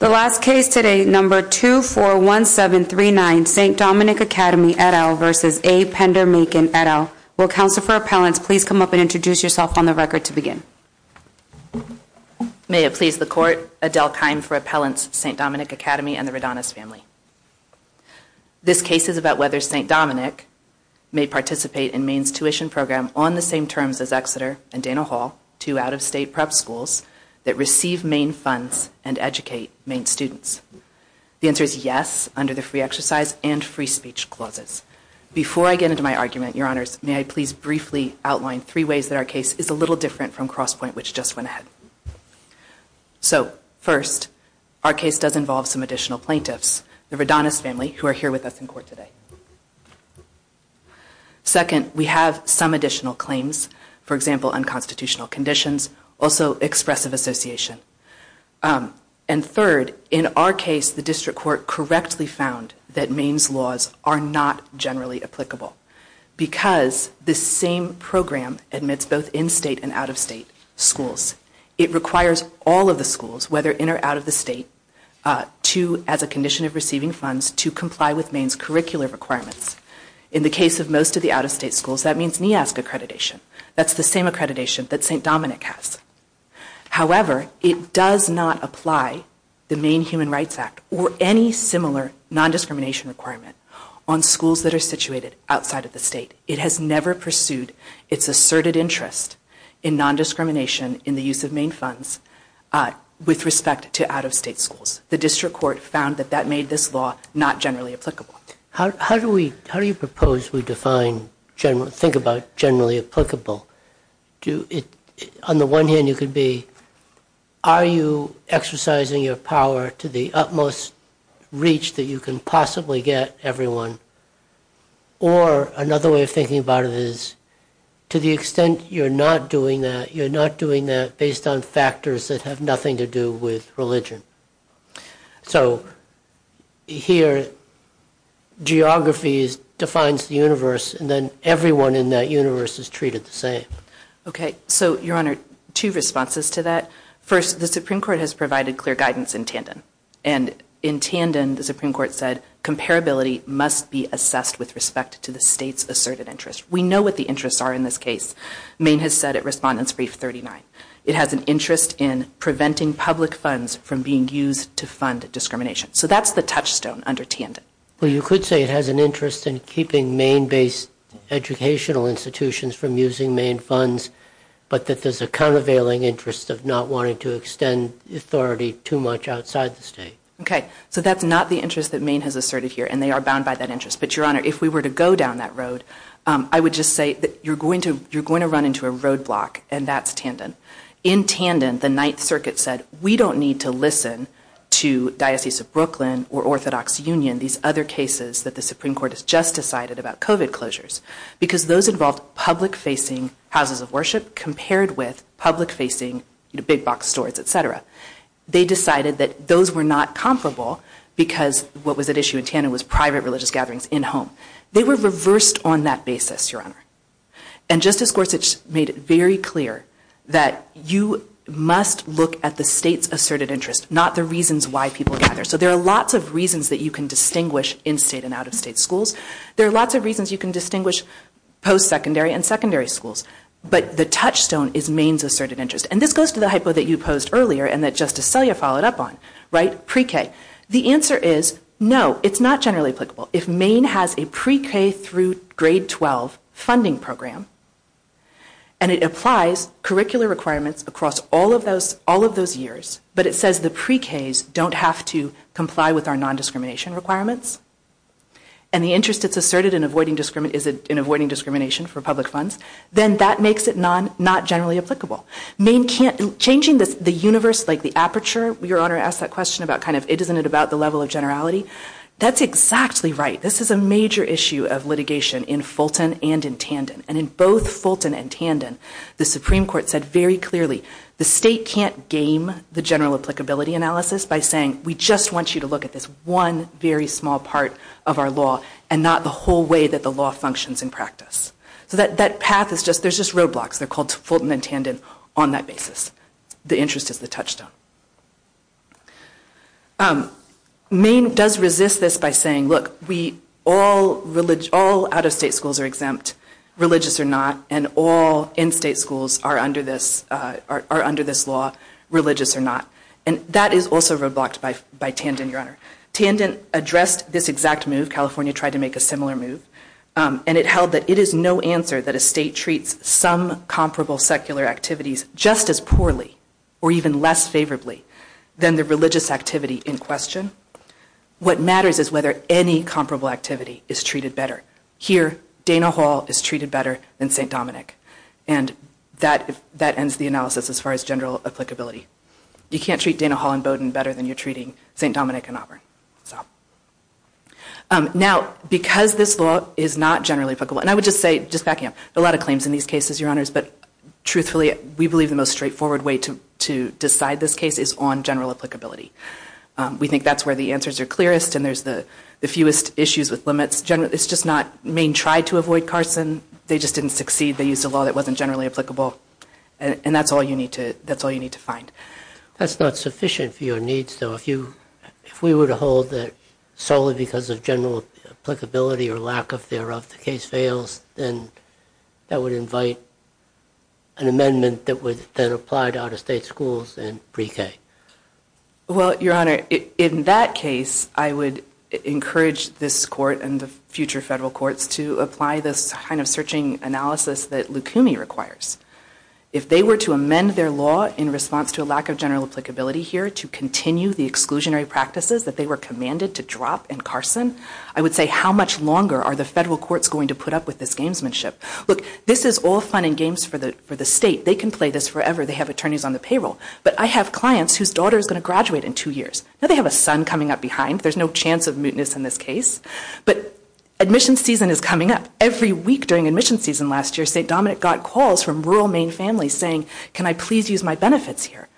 The last case today, No. 241739 St. Dominic Academy v. A. Pender Makin et al., will Counselor for Appellants please come up and introduce yourself on the record to begin. May it please the Court, Adele Kime for Appellants, St. Dominic Academy and the Redonis family. This case is about whether St. Dominic may participate in Maine's tuition program on the same terms as Exeter and Dana Hall, two out-of-state prep schools that receive Maine funds and educate Maine students. The answer is yes, under the free exercise and free speech clauses. Before I get into my argument, Your Honors, may I please briefly outline three ways that our case is a little different from Crosspoint, which just went ahead. So first, our case does involve some additional plaintiffs, the Redonis family, who are here with us in court today. Second, we have some additional claims, for example, unconstitutional conditions, also Expressive Association. And third, in our case, the District Court correctly found that Maine's laws are not generally applicable because this same program admits both in-state and out-of-state schools. It requires all of the schools, whether in or out of the state, to, as a condition of receiving funds, to comply with Maine's curricular requirements. In the case of most of the out-of-state schools, that means NEASC accreditation. That's the same accreditation that St. Dominic has. However, it does not apply the Maine Human Rights Act or any similar non-discrimination requirement on schools that are situated outside of the state. It has never pursued its asserted interest in non-discrimination in the use of Maine funds with respect to out-of-state schools. The District Court found that that made this law not generally applicable. How do we, how do you propose we define, think about generally applicable? On the one hand, it could be, are you exercising your power to the utmost reach that you can possibly get everyone? Or another way of thinking about it is, to the extent you're not doing that, you're not doing that based on factors that have nothing to do with religion. So, here, geography defines the universe, and then everyone in that universe is treated the same. Okay, so, Your Honor, two responses to that. First, the Supreme Court has provided clear guidance in tandem. And in tandem, the Supreme Court said, comparability must be assessed with respect to the state's asserted interest. We know what the interests are in this case. Maine has said it, Respondent's Brief 39. It has an interest in preventing public funds from being used to fund discrimination. So, that's the touchstone under tandem. Well, you could say it has an interest in keeping Maine-based educational institutions from using Maine funds, but that there's a countervailing interest of not wanting to extend authority too much outside the state. Okay, so that's not the interest that Maine has asserted here, and they are bound by that interest. But, Your Honor, if we were to go down that road, I would just say that you're going to run into a roadblock, and that's tandem. In tandem, the Ninth Circuit said, we don't need to listen to Diocese of Brooklyn or Orthodox Union, these other cases that the Supreme Court has just decided about COVID closures, because those involved public-facing houses of worship compared with public-facing big box stores, et cetera. They decided that those were not comparable because what was at issue in tandem was private religious gatherings in-home. They were reversed on that basis, Your Honor. And Justice Gorsuch made it very clear that you must look at the state's asserted interest, not the reasons why people gather. So there are lots of reasons that you can distinguish in-state and out-of-state schools. There are lots of reasons you can distinguish post-secondary and secondary schools. But the touchstone is Maine's asserted interest. And this goes to the hypo that you posed earlier and that Justice Selya followed up on, right? Pre-K. The answer is, no, it's not generally applicable. If Maine has a pre-K through grade 12 funding program, and it applies curricular requirements across all of those years, but it says the pre-Ks don't have to comply with our non-discrimination requirements, and the interest is asserted in avoiding discrimination for public funds, then that makes it not generally applicable. Changing the universe, like the aperture, Your Honor asked that question about kind of, isn't it about the level of generality? That's exactly right. This is a major issue of litigation in Fulton and in Tandon. And in both Fulton and Tandon, the Supreme Court said very clearly, the state can't game the general applicability analysis by saying, we just want you to look at this one very small part of our law and not the whole way that the law functions in practice. So that path is just, there's just roadblocks. They're called Fulton and Tandon on that basis. The interest is the touchstone. Maine does resist this by saying, look, all out-of-state schools are exempt, religious or not, and all in-state schools are under this law, religious or not. And that is also roadblocked by Tandon, Your Honor. Tandon addressed this exact move. California tried to make a similar move. And it held that it is no answer that a state treats some comparable secular activities just as poorly or even less favorably than the religious activity in question. What matters is whether any comparable activity is treated better. Here, Dana Hall is treated better than St. Dominic. And that ends the analysis as far as general applicability. You can't treat Dana Hall and Bowdoin better than you're treating St. Dominic and Auburn. Now, because this law is not generally applicable, and I would just say, just backing up, there are a lot of claims in these cases, Your Honors. But truthfully, we believe the most straightforward way to decide this case is on general applicability. We think that's where the answers are clearest, and there's the fewest issues with limits. It's just not Maine tried to avoid Carson. They just didn't succeed. They used a law that wasn't generally applicable. And that's all you need to find. That's not sufficient for your needs, though. If we were to hold that solely because of general applicability or lack of thereof the case fails, then that would invite an amendment that would then apply to out-of-state schools and pre-K. Well, Your Honor, in that case, I would encourage this Court and the future federal courts to apply this kind of searching analysis that Lukumi requires. If they were to amend their law in response to a lack of general applicability here to continue the exclusionary practices that they were commanded to drop in Carson, I would say how much longer are the federal courts going to put up with this gamesmanship? Look, this is all fun and games for the State. They can play this forever. They have attorneys on the payroll. But I have clients whose daughter is going to graduate in two years. Now they have a son coming up behind. There's no chance of mootness in this case. But admission season is coming up. Every week during admission season last year, St. Dominic got calls from rural Maine families saying, Can I please use my benefits here?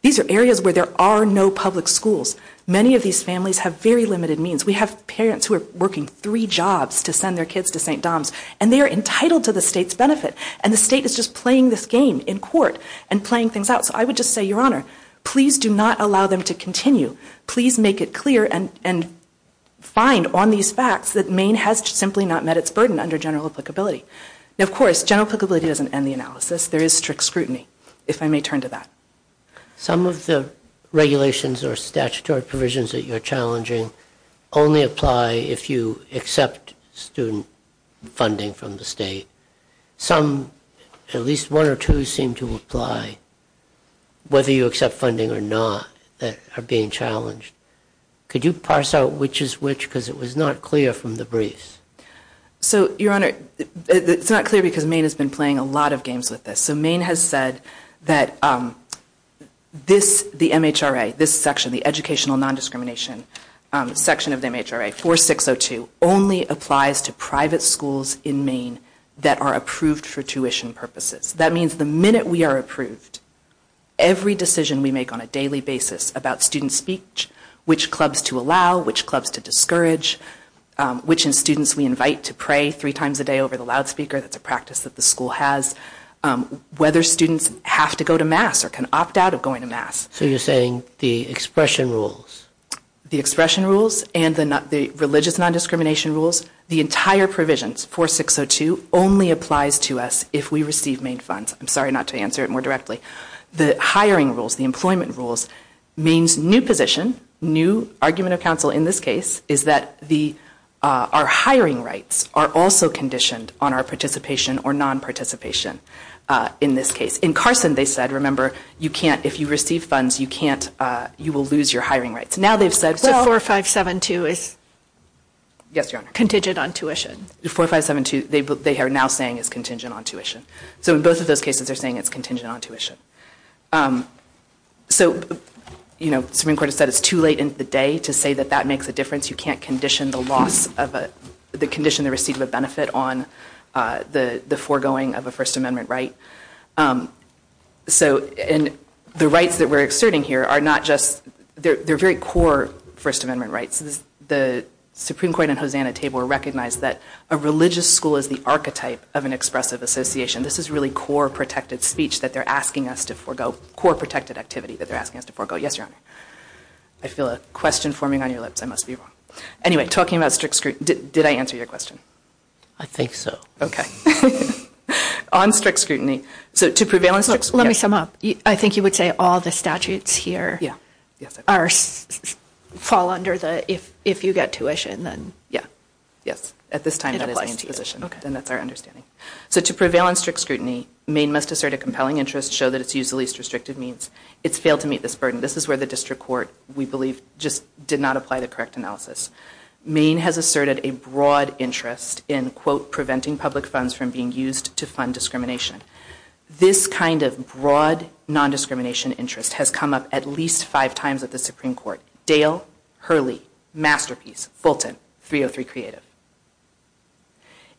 These are areas where there are no public schools. Many of these families have very limited means. We have parents who are working three jobs to send their kids to St. Dom's. And they are entitled to the State's benefit. And the State is just playing this game in court and playing things out. So I would just say, Your Honor, please do not allow them to continue. Please make it clear and find on these facts that Maine has simply not met its burden under general applicability. Now, of course, general applicability doesn't end the analysis. There is strict scrutiny, if I may turn to that. Some of the regulations or statutory provisions that you're challenging only apply if you accept student funding from the State. Some, at least one or two, seem to apply whether you accept funding or not that are being challenged. Could you parse out which is which? Because it was not clear from the briefs. So, Your Honor, it's not clear because Maine has been playing a lot of games with this. So Maine has said that this, the MHRA, this section, the educational non-discrimination section of the MHRA, 4602, only applies to private schools in Maine that are approved for tuition purposes. That means the minute we are approved, every decision we make on a daily basis about student speech, which clubs to allow, which clubs to discourage, which students we invite to pray three times a day over the loudspeaker, that's a practice that the school has, whether students have to go to mass or can opt out of going to mass. So you're saying the expression rules. The expression rules and the religious non-discrimination rules, the entire provisions, 4602, only applies to us if we receive Maine funds. I'm sorry not to answer it more directly. The hiring rules, the employment rules, Maine's new position, new argument of counsel in this case, is that the, our hiring rights are also conditioned on our participation or non-participation in this case. In Carson they said, remember, you can't, if you receive funds, you can't, you will lose your hiring rights. Now they've said, well. So 4572 is. Yes, Your Honor. Contingent on tuition. 4572, they are now saying is contingent on tuition. So in both of those cases they're saying it's contingent on tuition. So, you know, Supreme Court has said it's too late in the day to say that that makes a difference. You can't condition the loss of a, the condition the receipt of a benefit on the foregoing of a First Amendment right. So, and the rights that we're exerting here are not just, they're very core First Amendment rights. The Supreme Court and Hosanna table recognize that a religious school is the archetype of an expressive association. This is really core protected speech that they're asking us to forego, core protected activity that they're asking us to forego. Yes, Your Honor. I feel a question forming on your lips. I must be wrong. Anyway, talking about strict, did I answer your question? I think so. Okay. On strict scrutiny. So to prevail on strict. Let me sum up. I think you would say all the statutes here. Yeah. Are, fall under the, if you get tuition then. Yeah. Yes. At this time that is my position. Okay. And that's our understanding. So to prevail on strict scrutiny, Maine must assert a compelling interest, show that it's used the least restrictive means. It's failed to meet this burden. This is where the district court, we believe, just did not apply the correct analysis. Maine has asserted a broad interest in, quote, preventing public funds from being used to fund discrimination. This kind of broad nondiscrimination interest has come up at least five times at the Supreme Court. Dale, Hurley, Masterpiece, Fulton, 303 Creative.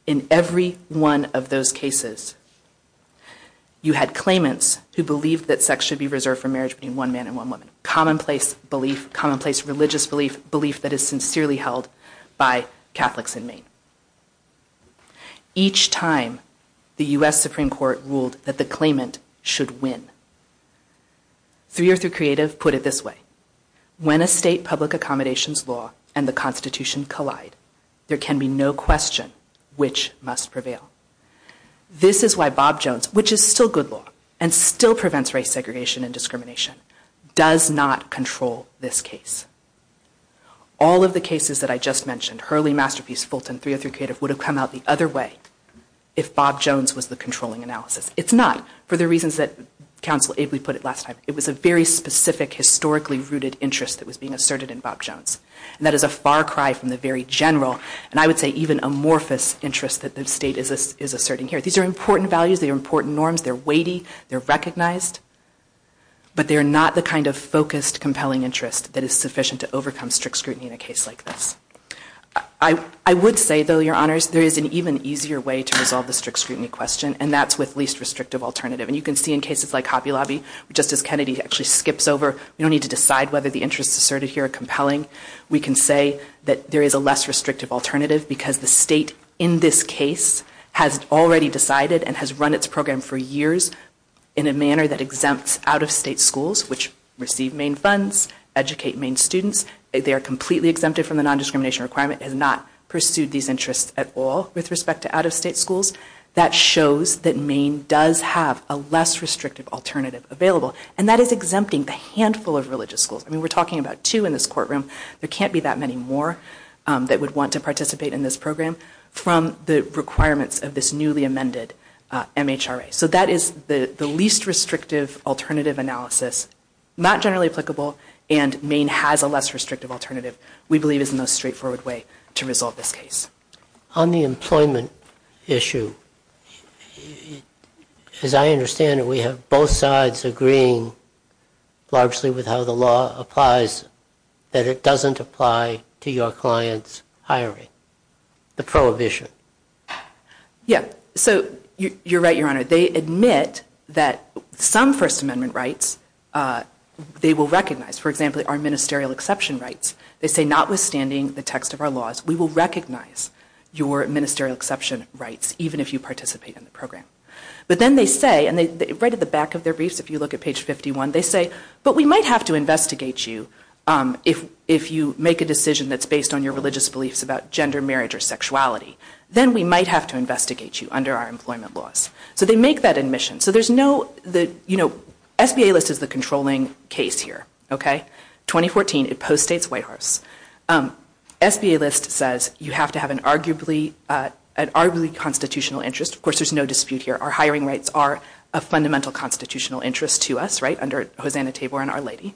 In every one of those cases, you had claimants who believed that sex should be reserved for marriage between one man and one woman. Commonplace belief, commonplace religious belief, belief that is sincerely held by Catholics in Maine. Each time the U.S. Supreme Court ruled that the claimant should win. 303 Creative put it this way. When a state public accommodations law and the Constitution collide, there can be no question which must prevail. This is why Bob Jones, which is still good law and still prevents race segregation and discrimination, does not control this case. All of the cases that I just mentioned, Hurley, Masterpiece, Fulton, 303 Creative, would have come out the other way if Bob Jones was the controlling analysis. It's not for the reasons that counsel Abley put it last time. It was a very specific, historically rooted interest that was being asserted in Bob Jones. And that is a far cry from the very general, and I would say even amorphous, interest that the state is asserting here. These are important values. They are important norms. They are weighty. They are recognized. But they are not the kind of focused, compelling interest that is sufficient to overcome strict scrutiny in a case like this. I would say, though, Your Honors, there is an even easier way to resolve the strict scrutiny question, and that's with least restrictive alternative. And you can see in cases like Hobby Lobby, just as Kennedy actually skips over, we don't need to decide whether the interests asserted here are compelling. We can say that there is a less restrictive alternative because the state in this case has already decided and has run its program for years in a manner that exempts out-of-state schools which receive Maine funds, educate Maine students. They are completely exempted from the nondiscrimination requirement, has not pursued these interests at all with respect to out-of-state schools. That shows that Maine does have a less restrictive alternative available. And that is exempting the handful of religious schools. I mean, we're talking about two in this courtroom. There can't be that many more that would want to participate in this program from the requirements of this newly amended MHRA. So that is the least restrictive alternative analysis, not generally applicable, and Maine has a less restrictive alternative, we believe is the most straightforward way to resolve this case. On the employment issue, as I understand it, we have both sides agreeing, largely with how the law applies, that it doesn't apply to your client's hiring. The prohibition. Yeah, so you're right, Your Honor. They admit that some First Amendment rights, they will recognize. For example, our ministerial exception rights. They say, notwithstanding the text of our laws, we will recognize your ministerial exception rights even if you participate in the program. But then they say, right at the back of their briefs, if you look at page 51, they say, but we might have to investigate you if you make a decision that's based on your religious beliefs about gender, marriage, or sexuality. Then we might have to investigate you under our employment laws. So they make that admission. So there's no, you know, SBA list is the controlling case here. 2014, it post-states White House. SBA list says you have to have an arguably constitutional interest. Of course, there's no dispute here. Our hiring rights are a fundamental constitutional interest to us, right, under Hosanna Tabor and Our Lady.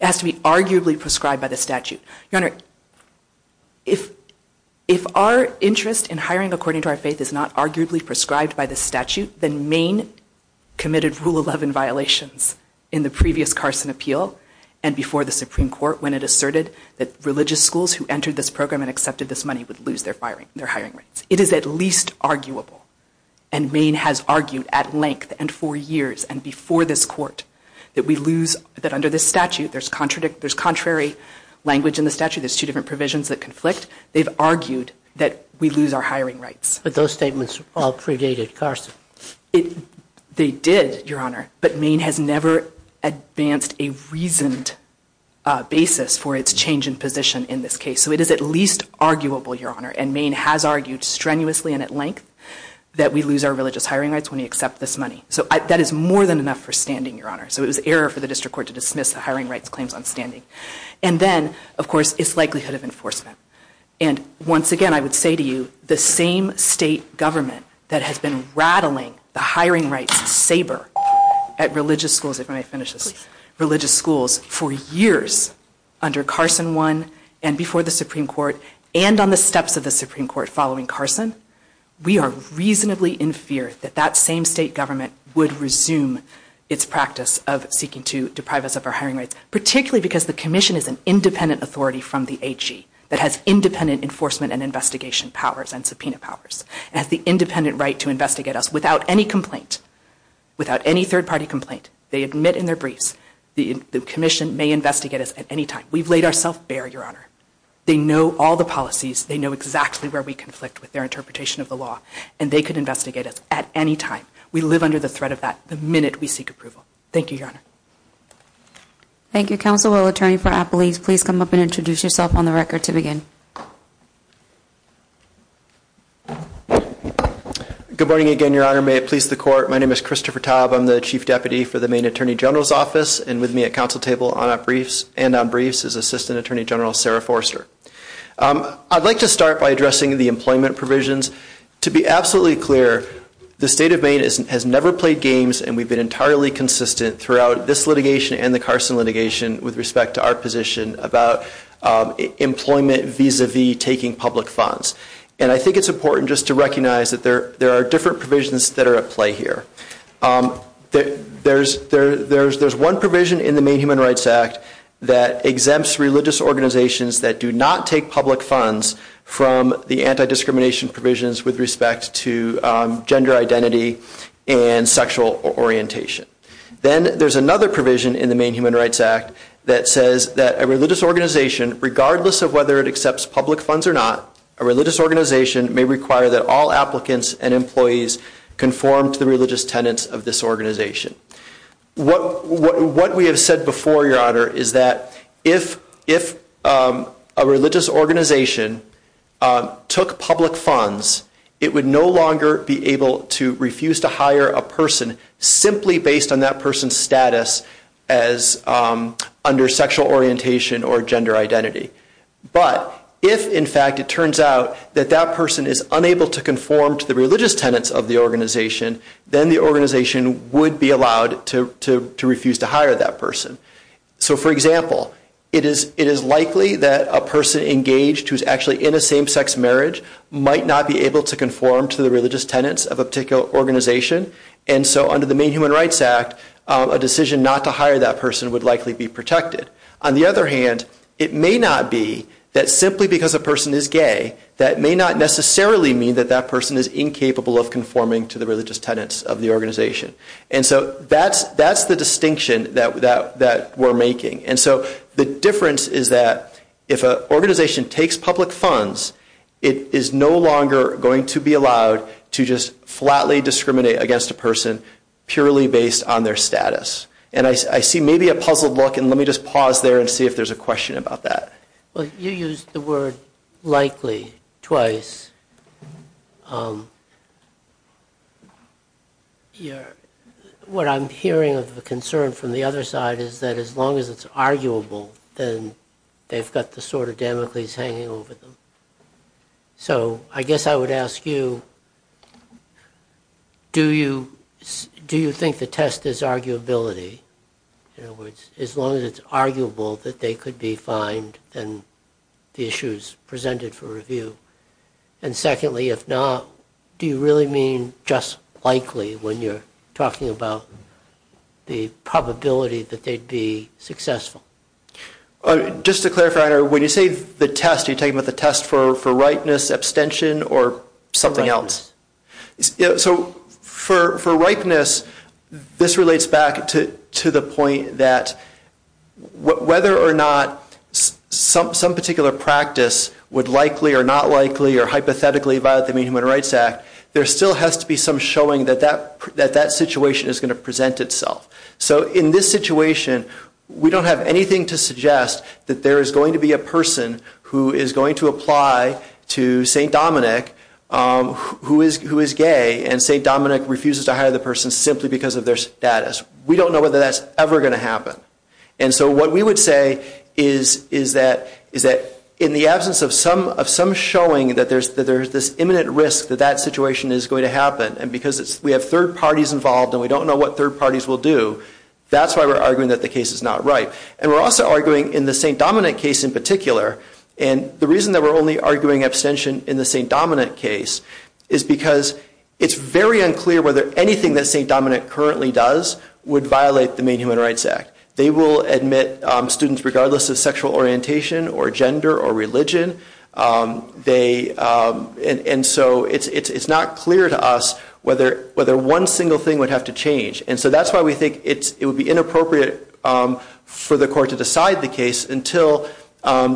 It has to be arguably prescribed by the statute. Your Honor, if our interest in hiring according to our faith is not arguably prescribed by the statute, then Maine committed Rule 11 violations in the previous Carson appeal and before the Supreme Court when it asserted that religious schools who entered this program and accepted this money would lose their hiring rights. It is at least arguable, and Maine has argued at length and for years and before this Court that we lose, that under this statute, there's contrary language in the statute. There's two different provisions that conflict. They've argued that we lose our hiring rights. But those statements all predated Carson. They did, Your Honor, but Maine has never advanced a reasoned basis for its change in position in this case. So it is at least arguable, Your Honor, and Maine has argued strenuously and at length that we lose our religious hiring rights when we accept this money. So that is more than enough for standing, Your Honor. So it was error for the District Court to dismiss the hiring rights claims on standing. And then, of course, its likelihood of enforcement. And once again, I would say to you, the same state government that has been rattling the hiring rights saber at religious schools for years under Carson I and before the Supreme Court and on the steps of the Supreme Court following Carson, we are reasonably in fear that that same state government would resume its practice of seeking to deprive us of our hiring rights, particularly because the Commission is an independent authority from the AG that has independent enforcement and investigation powers and subpoena powers and has the independent right to investigate us without any complaint, without any third-party complaint. They admit in their briefs. The Commission may investigate us at any time. We've laid ourselves bare, Your Honor. They know all the policies. They know exactly where we conflict with their interpretation of the law. And they could investigate us at any time. We live under the threat of that the minute we seek approval. Thank you, Your Honor. Thank you, Counsel. Will the Attorney for Appalachia please come up and introduce yourself on the record to begin? Good morning again, Your Honor. May it please the Court. My name is Christopher Taub. I'm the Chief Deputy for the Maine Attorney General's Office. And with me at counsel table and on briefs is Assistant Attorney General Sarah Forster. I'd like to start by addressing the employment provisions. To be absolutely clear, the State of Maine has never played games, and we've been entirely consistent throughout this litigation and the Carson litigation with respect to our position about employment vis-à-vis taking public funds. And I think it's important just to recognize that there are different provisions that are at play here. There's one provision in the Maine Human Rights Act that exempts religious organizations that do not take public funds from the anti-discrimination provisions with respect to gender identity and sexual orientation. Then there's another provision in the Maine Human Rights Act that says that a religious organization, regardless of whether it accepts public funds or not, a religious organization may require that all applicants and employees conform to the religious tenets of this organization. What we have said before, Your Honor, is that if a religious organization took public funds, it would no longer be able to refuse to hire a person simply based on that person's status as under sexual orientation or gender identity. But if, in fact, it turns out that that person is unable to conform to the religious tenets of the organization, then the organization would be allowed to refuse to hire that person. So, for example, it is likely that a person engaged who is actually in a same-sex marriage might not be able to conform to the religious tenets of a particular organization, and so under the Maine Human Rights Act, a decision not to hire that person would likely be protected. On the other hand, it may not be that simply because a person is gay, that may not necessarily mean that that person is incapable of conforming to the religious tenets of the organization. And so that's the distinction that we're making. And so the difference is that if an organization takes public funds, it is no longer going to be allowed to just flatly discriminate against a person purely based on their status. And I see maybe a puzzled look, and let me just pause there and see if there's a question about that. Well, you used the word likely twice. What I'm hearing of the concern from the other side is that as long as it's arguable, then they've got the sort of Damocles hanging over them. So I guess I would ask you, do you think the test is arguability? In other words, as long as it's arguable that they could be fined, then the issue is presented for review. And secondly, if not, do you really mean just likely when you're talking about the probability that they'd be successful? Just to clarify, when you say the test, are you talking about the test for rightness, abstention, or something else? So for rightness, this relates back to the point that whether or not some particular practice would likely or not likely or hypothetically violate the Human Rights Act, there still has to be some showing that that situation is going to present itself. So in this situation, we don't have anything to suggest that there is going to be a person who is going to apply to St. Dominic who is gay, and St. Dominic refuses to hire the person simply because of their status. We don't know whether that's ever going to happen. And so what we would say is that in the absence of some showing that there's this imminent risk that that situation is going to happen, and because we have third parties involved and we don't know what third parties will do, that's why we're arguing that the case is not right. And we're also arguing in the St. Dominic case in particular, and the reason that we're only arguing abstention in the St. Dominic case is because it's very unclear whether anything that St. Dominic currently does would violate the main Human Rights Act. They will admit students regardless of sexual orientation or gender or religion. And so it's not clear to us whether one single thing would have to change. And so that's why we think it would be inappropriate for the court to decide the case until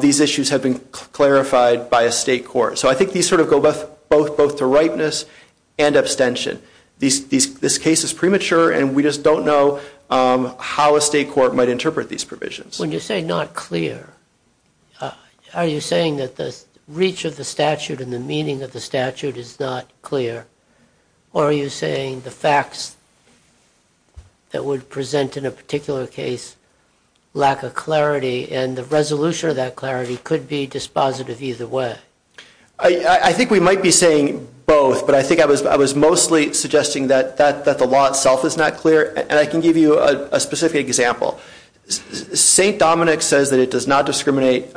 these issues have been clarified by a state court. So I think these sort of go both to ripeness and abstention. This case is premature, and we just don't know how a state court might interpret these provisions. When you say not clear, are you saying that the reach of the statute and the meaning of the statute is not clear, or are you saying the facts that would present in a particular case lack of clarity, and the resolution of that clarity could be dispositive either way? I think we might be saying both, but I think I was mostly suggesting that the law itself is not clear, and I can give you a specific example. St. Dominic says that it does not discriminate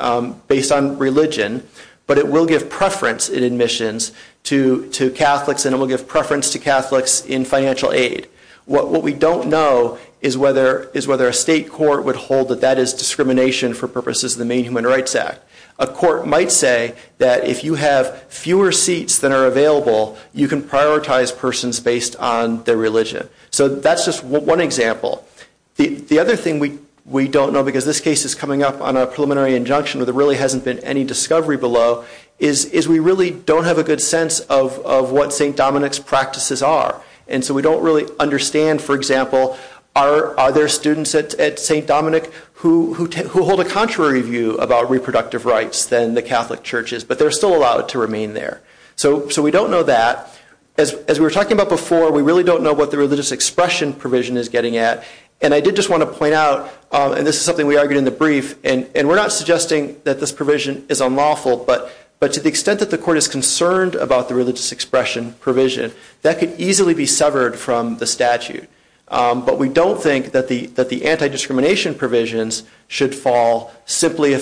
based on religion, but it will give preference in admissions to Catholics, and it will give preference to Catholics in financial aid. What we don't know is whether a state court would hold that that is discrimination for purposes of the main Human Rights Act. A court might say that if you have fewer seats than are available, you can prioritize persons based on their religion. So that's just one example. The other thing we don't know, because this case is coming up on a preliminary injunction where there really hasn't been any discovery below, is we really don't have a good sense of what St. Dominic's practices are, and so we don't really understand, for example, are there students at St. Dominic who hold a contrary view about reproductive rights than the Catholic churches, but they're still allowed to remain there. So we don't know that. As we were talking about before, we really don't know what the religious expression provision is getting at, and I did just want to point out, and this is something we argued in the brief, and we're not suggesting that this provision is unlawful, but to the extent that the court is concerned about the religious expression provision, that could easily be severed from the statute. But we don't think that the anti-discrimination provisions should fall simply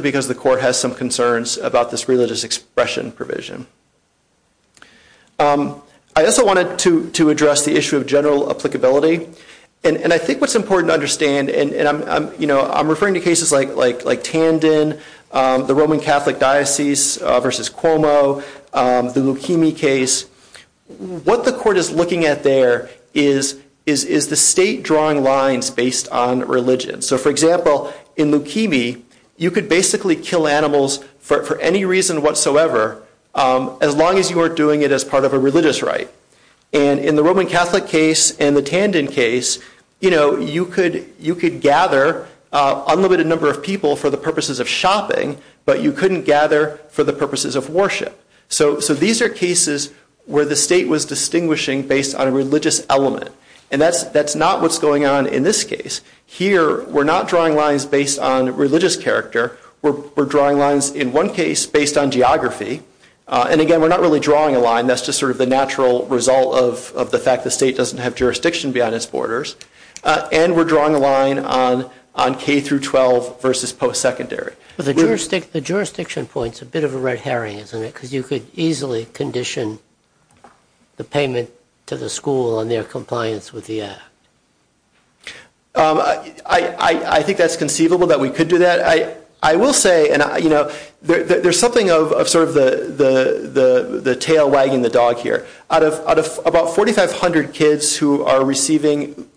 because the court has some concerns about this religious expression provision. I also wanted to address the issue of general applicability, and I think what's important to understand, and I'm referring to cases like Tandon, the Roman Catholic Diocese versus Cuomo, the Leukemia case. What the court is looking at there is the state drawing lines based on religion. So, for example, in Leukemia, you could basically kill animals for any reason whatsoever as long as you were doing it as part of a religious rite. And in the Roman Catholic case and the Tandon case, you could gather an unlimited number of people for the purposes of shopping, but you couldn't gather for the purposes of worship. So these are cases where the state was distinguishing based on a religious element, and that's not what's going on in this case. Here, we're not drawing lines based on religious character. We're drawing lines, in one case, based on geography. And, again, we're not really drawing a line. That's just sort of the natural result of the fact the state doesn't have jurisdiction beyond its borders. And we're drawing a line on K through 12 versus post-secondary. The jurisdiction point is a bit of a red herring, isn't it, because you could easily condition the payment to the school on their compliance with the act. I think that's conceivable, that we could do that. I will say, and, you know, there's something of sort of the tail wagging the dog here. Out of about 4,500 kids who are receiving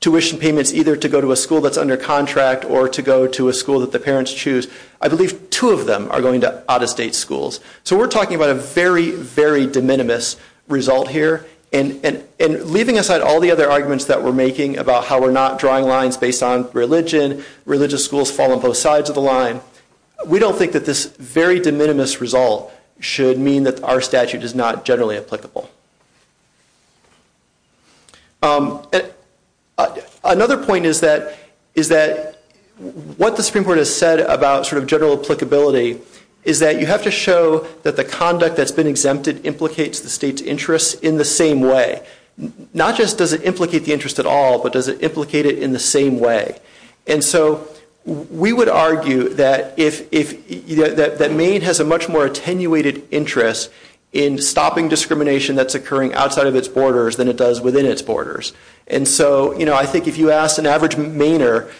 tuition payments either to go to a school that's under contract or to go to a school that the parents choose, I believe two of them are going to out-of-state schools. So we're talking about a very, very de minimis result here. And leaving aside all the other arguments that we're making about how we're not drawing lines based on religion, religious schools fall on both sides of the line, we don't think that this very de minimis result should mean that our statute is not generally applicable. Another point is that what the Supreme Court has said about sort of general applicability is that you have to show that the conduct that's been exempted implicates the state's interests in the same way. Not just does it implicate the interest at all, but does it implicate it in the same way. And so we would argue that Maine has a much more attenuated interest in stopping discrimination that's occurring outside of its borders than it does within its borders. And so I think if you asked an average Mainer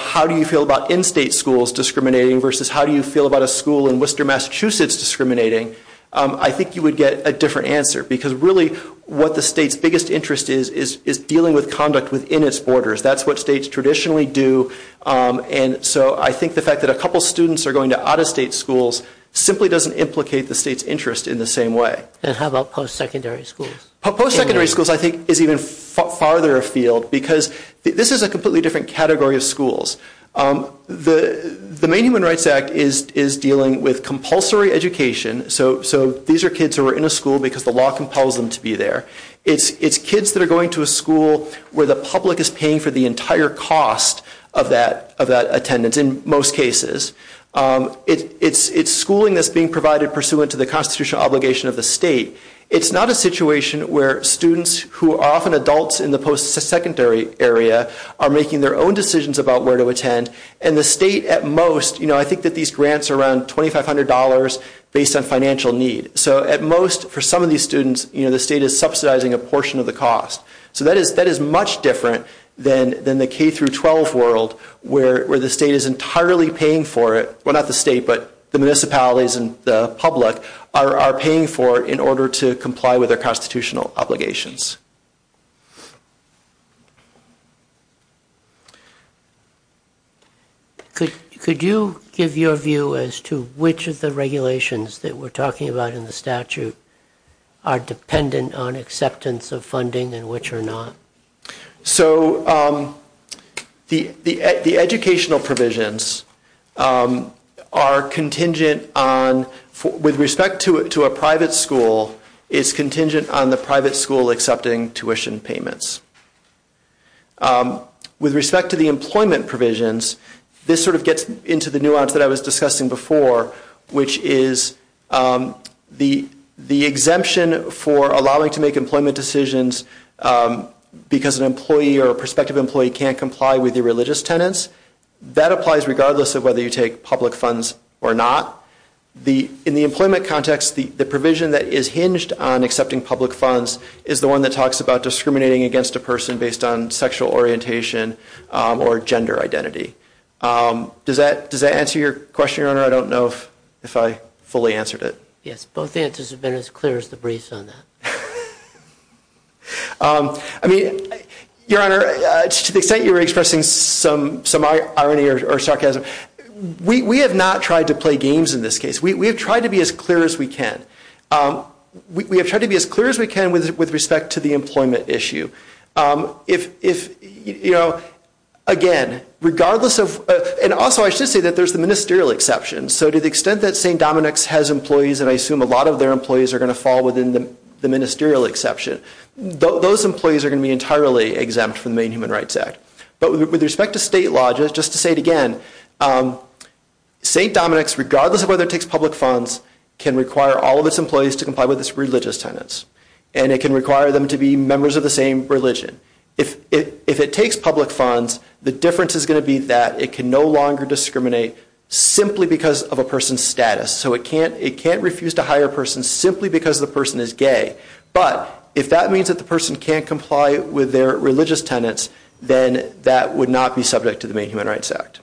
how do you feel about in-state schools discriminating versus how do you feel about a school in Worcester, Massachusetts discriminating, I think you would get a different answer. Because really what the state's biggest interest is is dealing with conduct within its borders. That's what states traditionally do. And so I think the fact that a couple students are going to out-of-state schools simply doesn't implicate the state's interest in the same way. And how about post-secondary schools? Post-secondary schools I think is even farther afield because this is a completely different category of schools. The Maine Human Rights Act is dealing with compulsory education. So these are kids who are in a school because the law compels them to be there. It's kids that are going to a school where the public is paying for the entire cost of that attendance in most cases. It's schooling that's being provided pursuant to the constitutional obligation of the state. It's not a situation where students who are often adults in the post-secondary area are making their own decisions about where to attend. And the state at most, you know, I think that these grants are around $2,500 based on financial need. So at most for some of these students, you know, the state is subsidizing a portion of the cost. So that is much different than the K-12 world where the state is entirely paying for it. Well, not the state, but the municipalities and the public are paying for it in order to comply with their constitutional obligations. Could you give your view as to which of the regulations that we're talking about in the statute are dependent on acceptance of funding and which are not? So the educational provisions are contingent on, with respect to a private school, it's contingent on the private school accepting tuition payments. With respect to the employment provisions, this sort of gets into the nuance that I was discussing before, which is the exemption for allowing to make employment decisions because an employee or a prospective employee can't comply with the religious tenets, that applies regardless of whether you take public funds or not. In the employment context, the provision that is hinged on accepting public funds is the one that talks about discriminating against a person based on sexual orientation or gender identity. Does that answer your question, Your Honor? I don't know if I fully answered it. Yes, both answers have been as clear as the breeze on that. I mean, Your Honor, to the extent you're expressing some irony or sarcasm, we have not tried to play games in this case. We have tried to be as clear as we can. We have tried to be as clear as we can with respect to the employment issue. If, you know, again, regardless of, and also I should say that there's the ministerial exception, so to the extent that St. Dominic's has employees, and I assume a lot of their employees are going to fall within the ministerial exception, those employees are going to be entirely exempt from the Main Human Rights Act. But with respect to state law, just to say it again, St. Dominic's, regardless of whether it takes public funds, can require all of its employees to comply with its religious tenets. And it can require them to be members of the same religion. If it takes public funds, the difference is going to be that it can no longer discriminate simply because of a person's status. So it can't refuse to hire a person simply because the person is gay. But if that means that the person can't comply with their religious tenets, then that would not be subject to the Main Human Rights Act.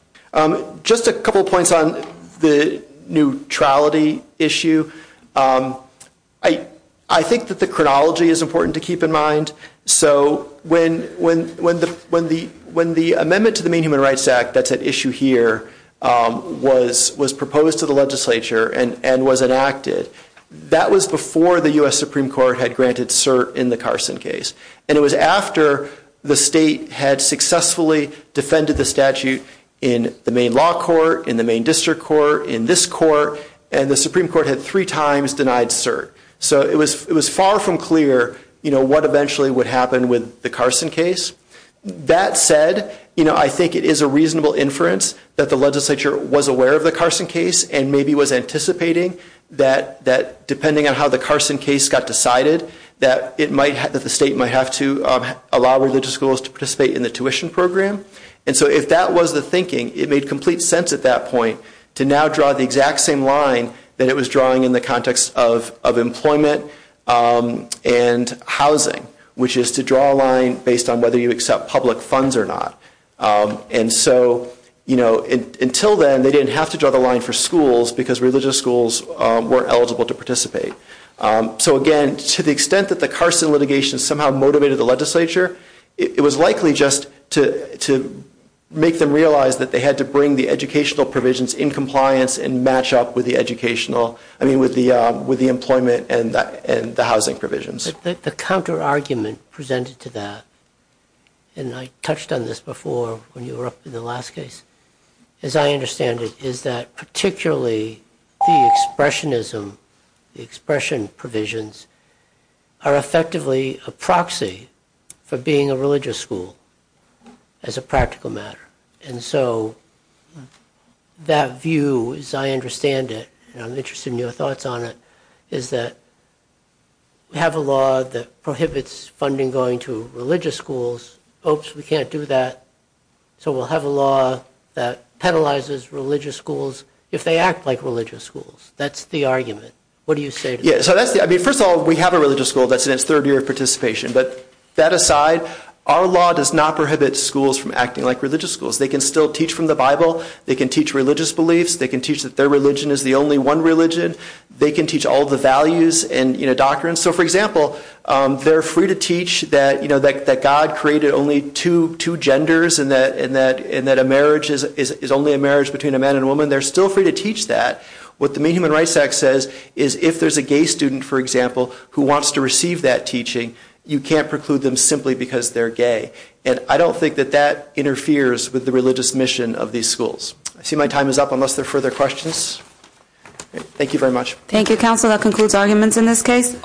Just a couple points on the neutrality issue. I think that the chronology is important to keep in mind. So when the amendment to the Main Human Rights Act that's at issue here was proposed to the legislature and was enacted, that was before the U.S. Supreme Court had granted cert in the Carson case. And it was after the state had successfully defended the statute in the main law court, in the main district court, in this court, and the Supreme Court had three times denied cert. So it was far from clear what eventually would happen with the Carson case. That said, I think it is a reasonable inference that the legislature was aware of the Carson case and maybe was anticipating that depending on how the Carson case got decided, that the state might have to allow religious schools to participate in the tuition program. And so if that was the thinking, it made complete sense at that point to now draw the exact same line that it was drawing in the context of employment and housing, which is to draw a line based on whether you accept public funds or not. And so until then, they didn't have to draw the line for schools because religious schools weren't eligible to participate. So again, to the extent that the Carson litigation somehow motivated the legislature, it was likely just to make them realize that they had to bring the educational provisions in compliance and match up with the employment and the housing provisions. The counter-argument presented to that, and I touched on this before when you were up in the last case, as I understand it, is that particularly the expressionism, the expression provisions, are effectively a proxy for being a religious school as a practical matter. And so that view, as I understand it, and I'm interested in your thoughts on it, is that we have a law that prohibits funding going to religious schools. Oops, we can't do that. So we'll have a law that penalizes religious schools if they act like religious schools. That's the argument. What do you say to that? First of all, we have a religious school that's in its third year of participation. But that aside, our law does not prohibit schools from acting like religious schools. They can still teach from the Bible. They can teach religious beliefs. They can teach that their religion is the only one religion. They can teach all the values and doctrines. So for example, they're free to teach that God created only two genders and that a marriage is only a marriage between a man and a woman. They're still free to teach that. What the Maine Human Rights Act says is if there's a gay student, for example, who wants to receive that teaching, you can't preclude them simply because they're gay. And I don't think that that interferes with the religious mission of these schools. I see my time is up unless there are further questions. Thank you very much. Thank you, counsel. That concludes arguments in this case.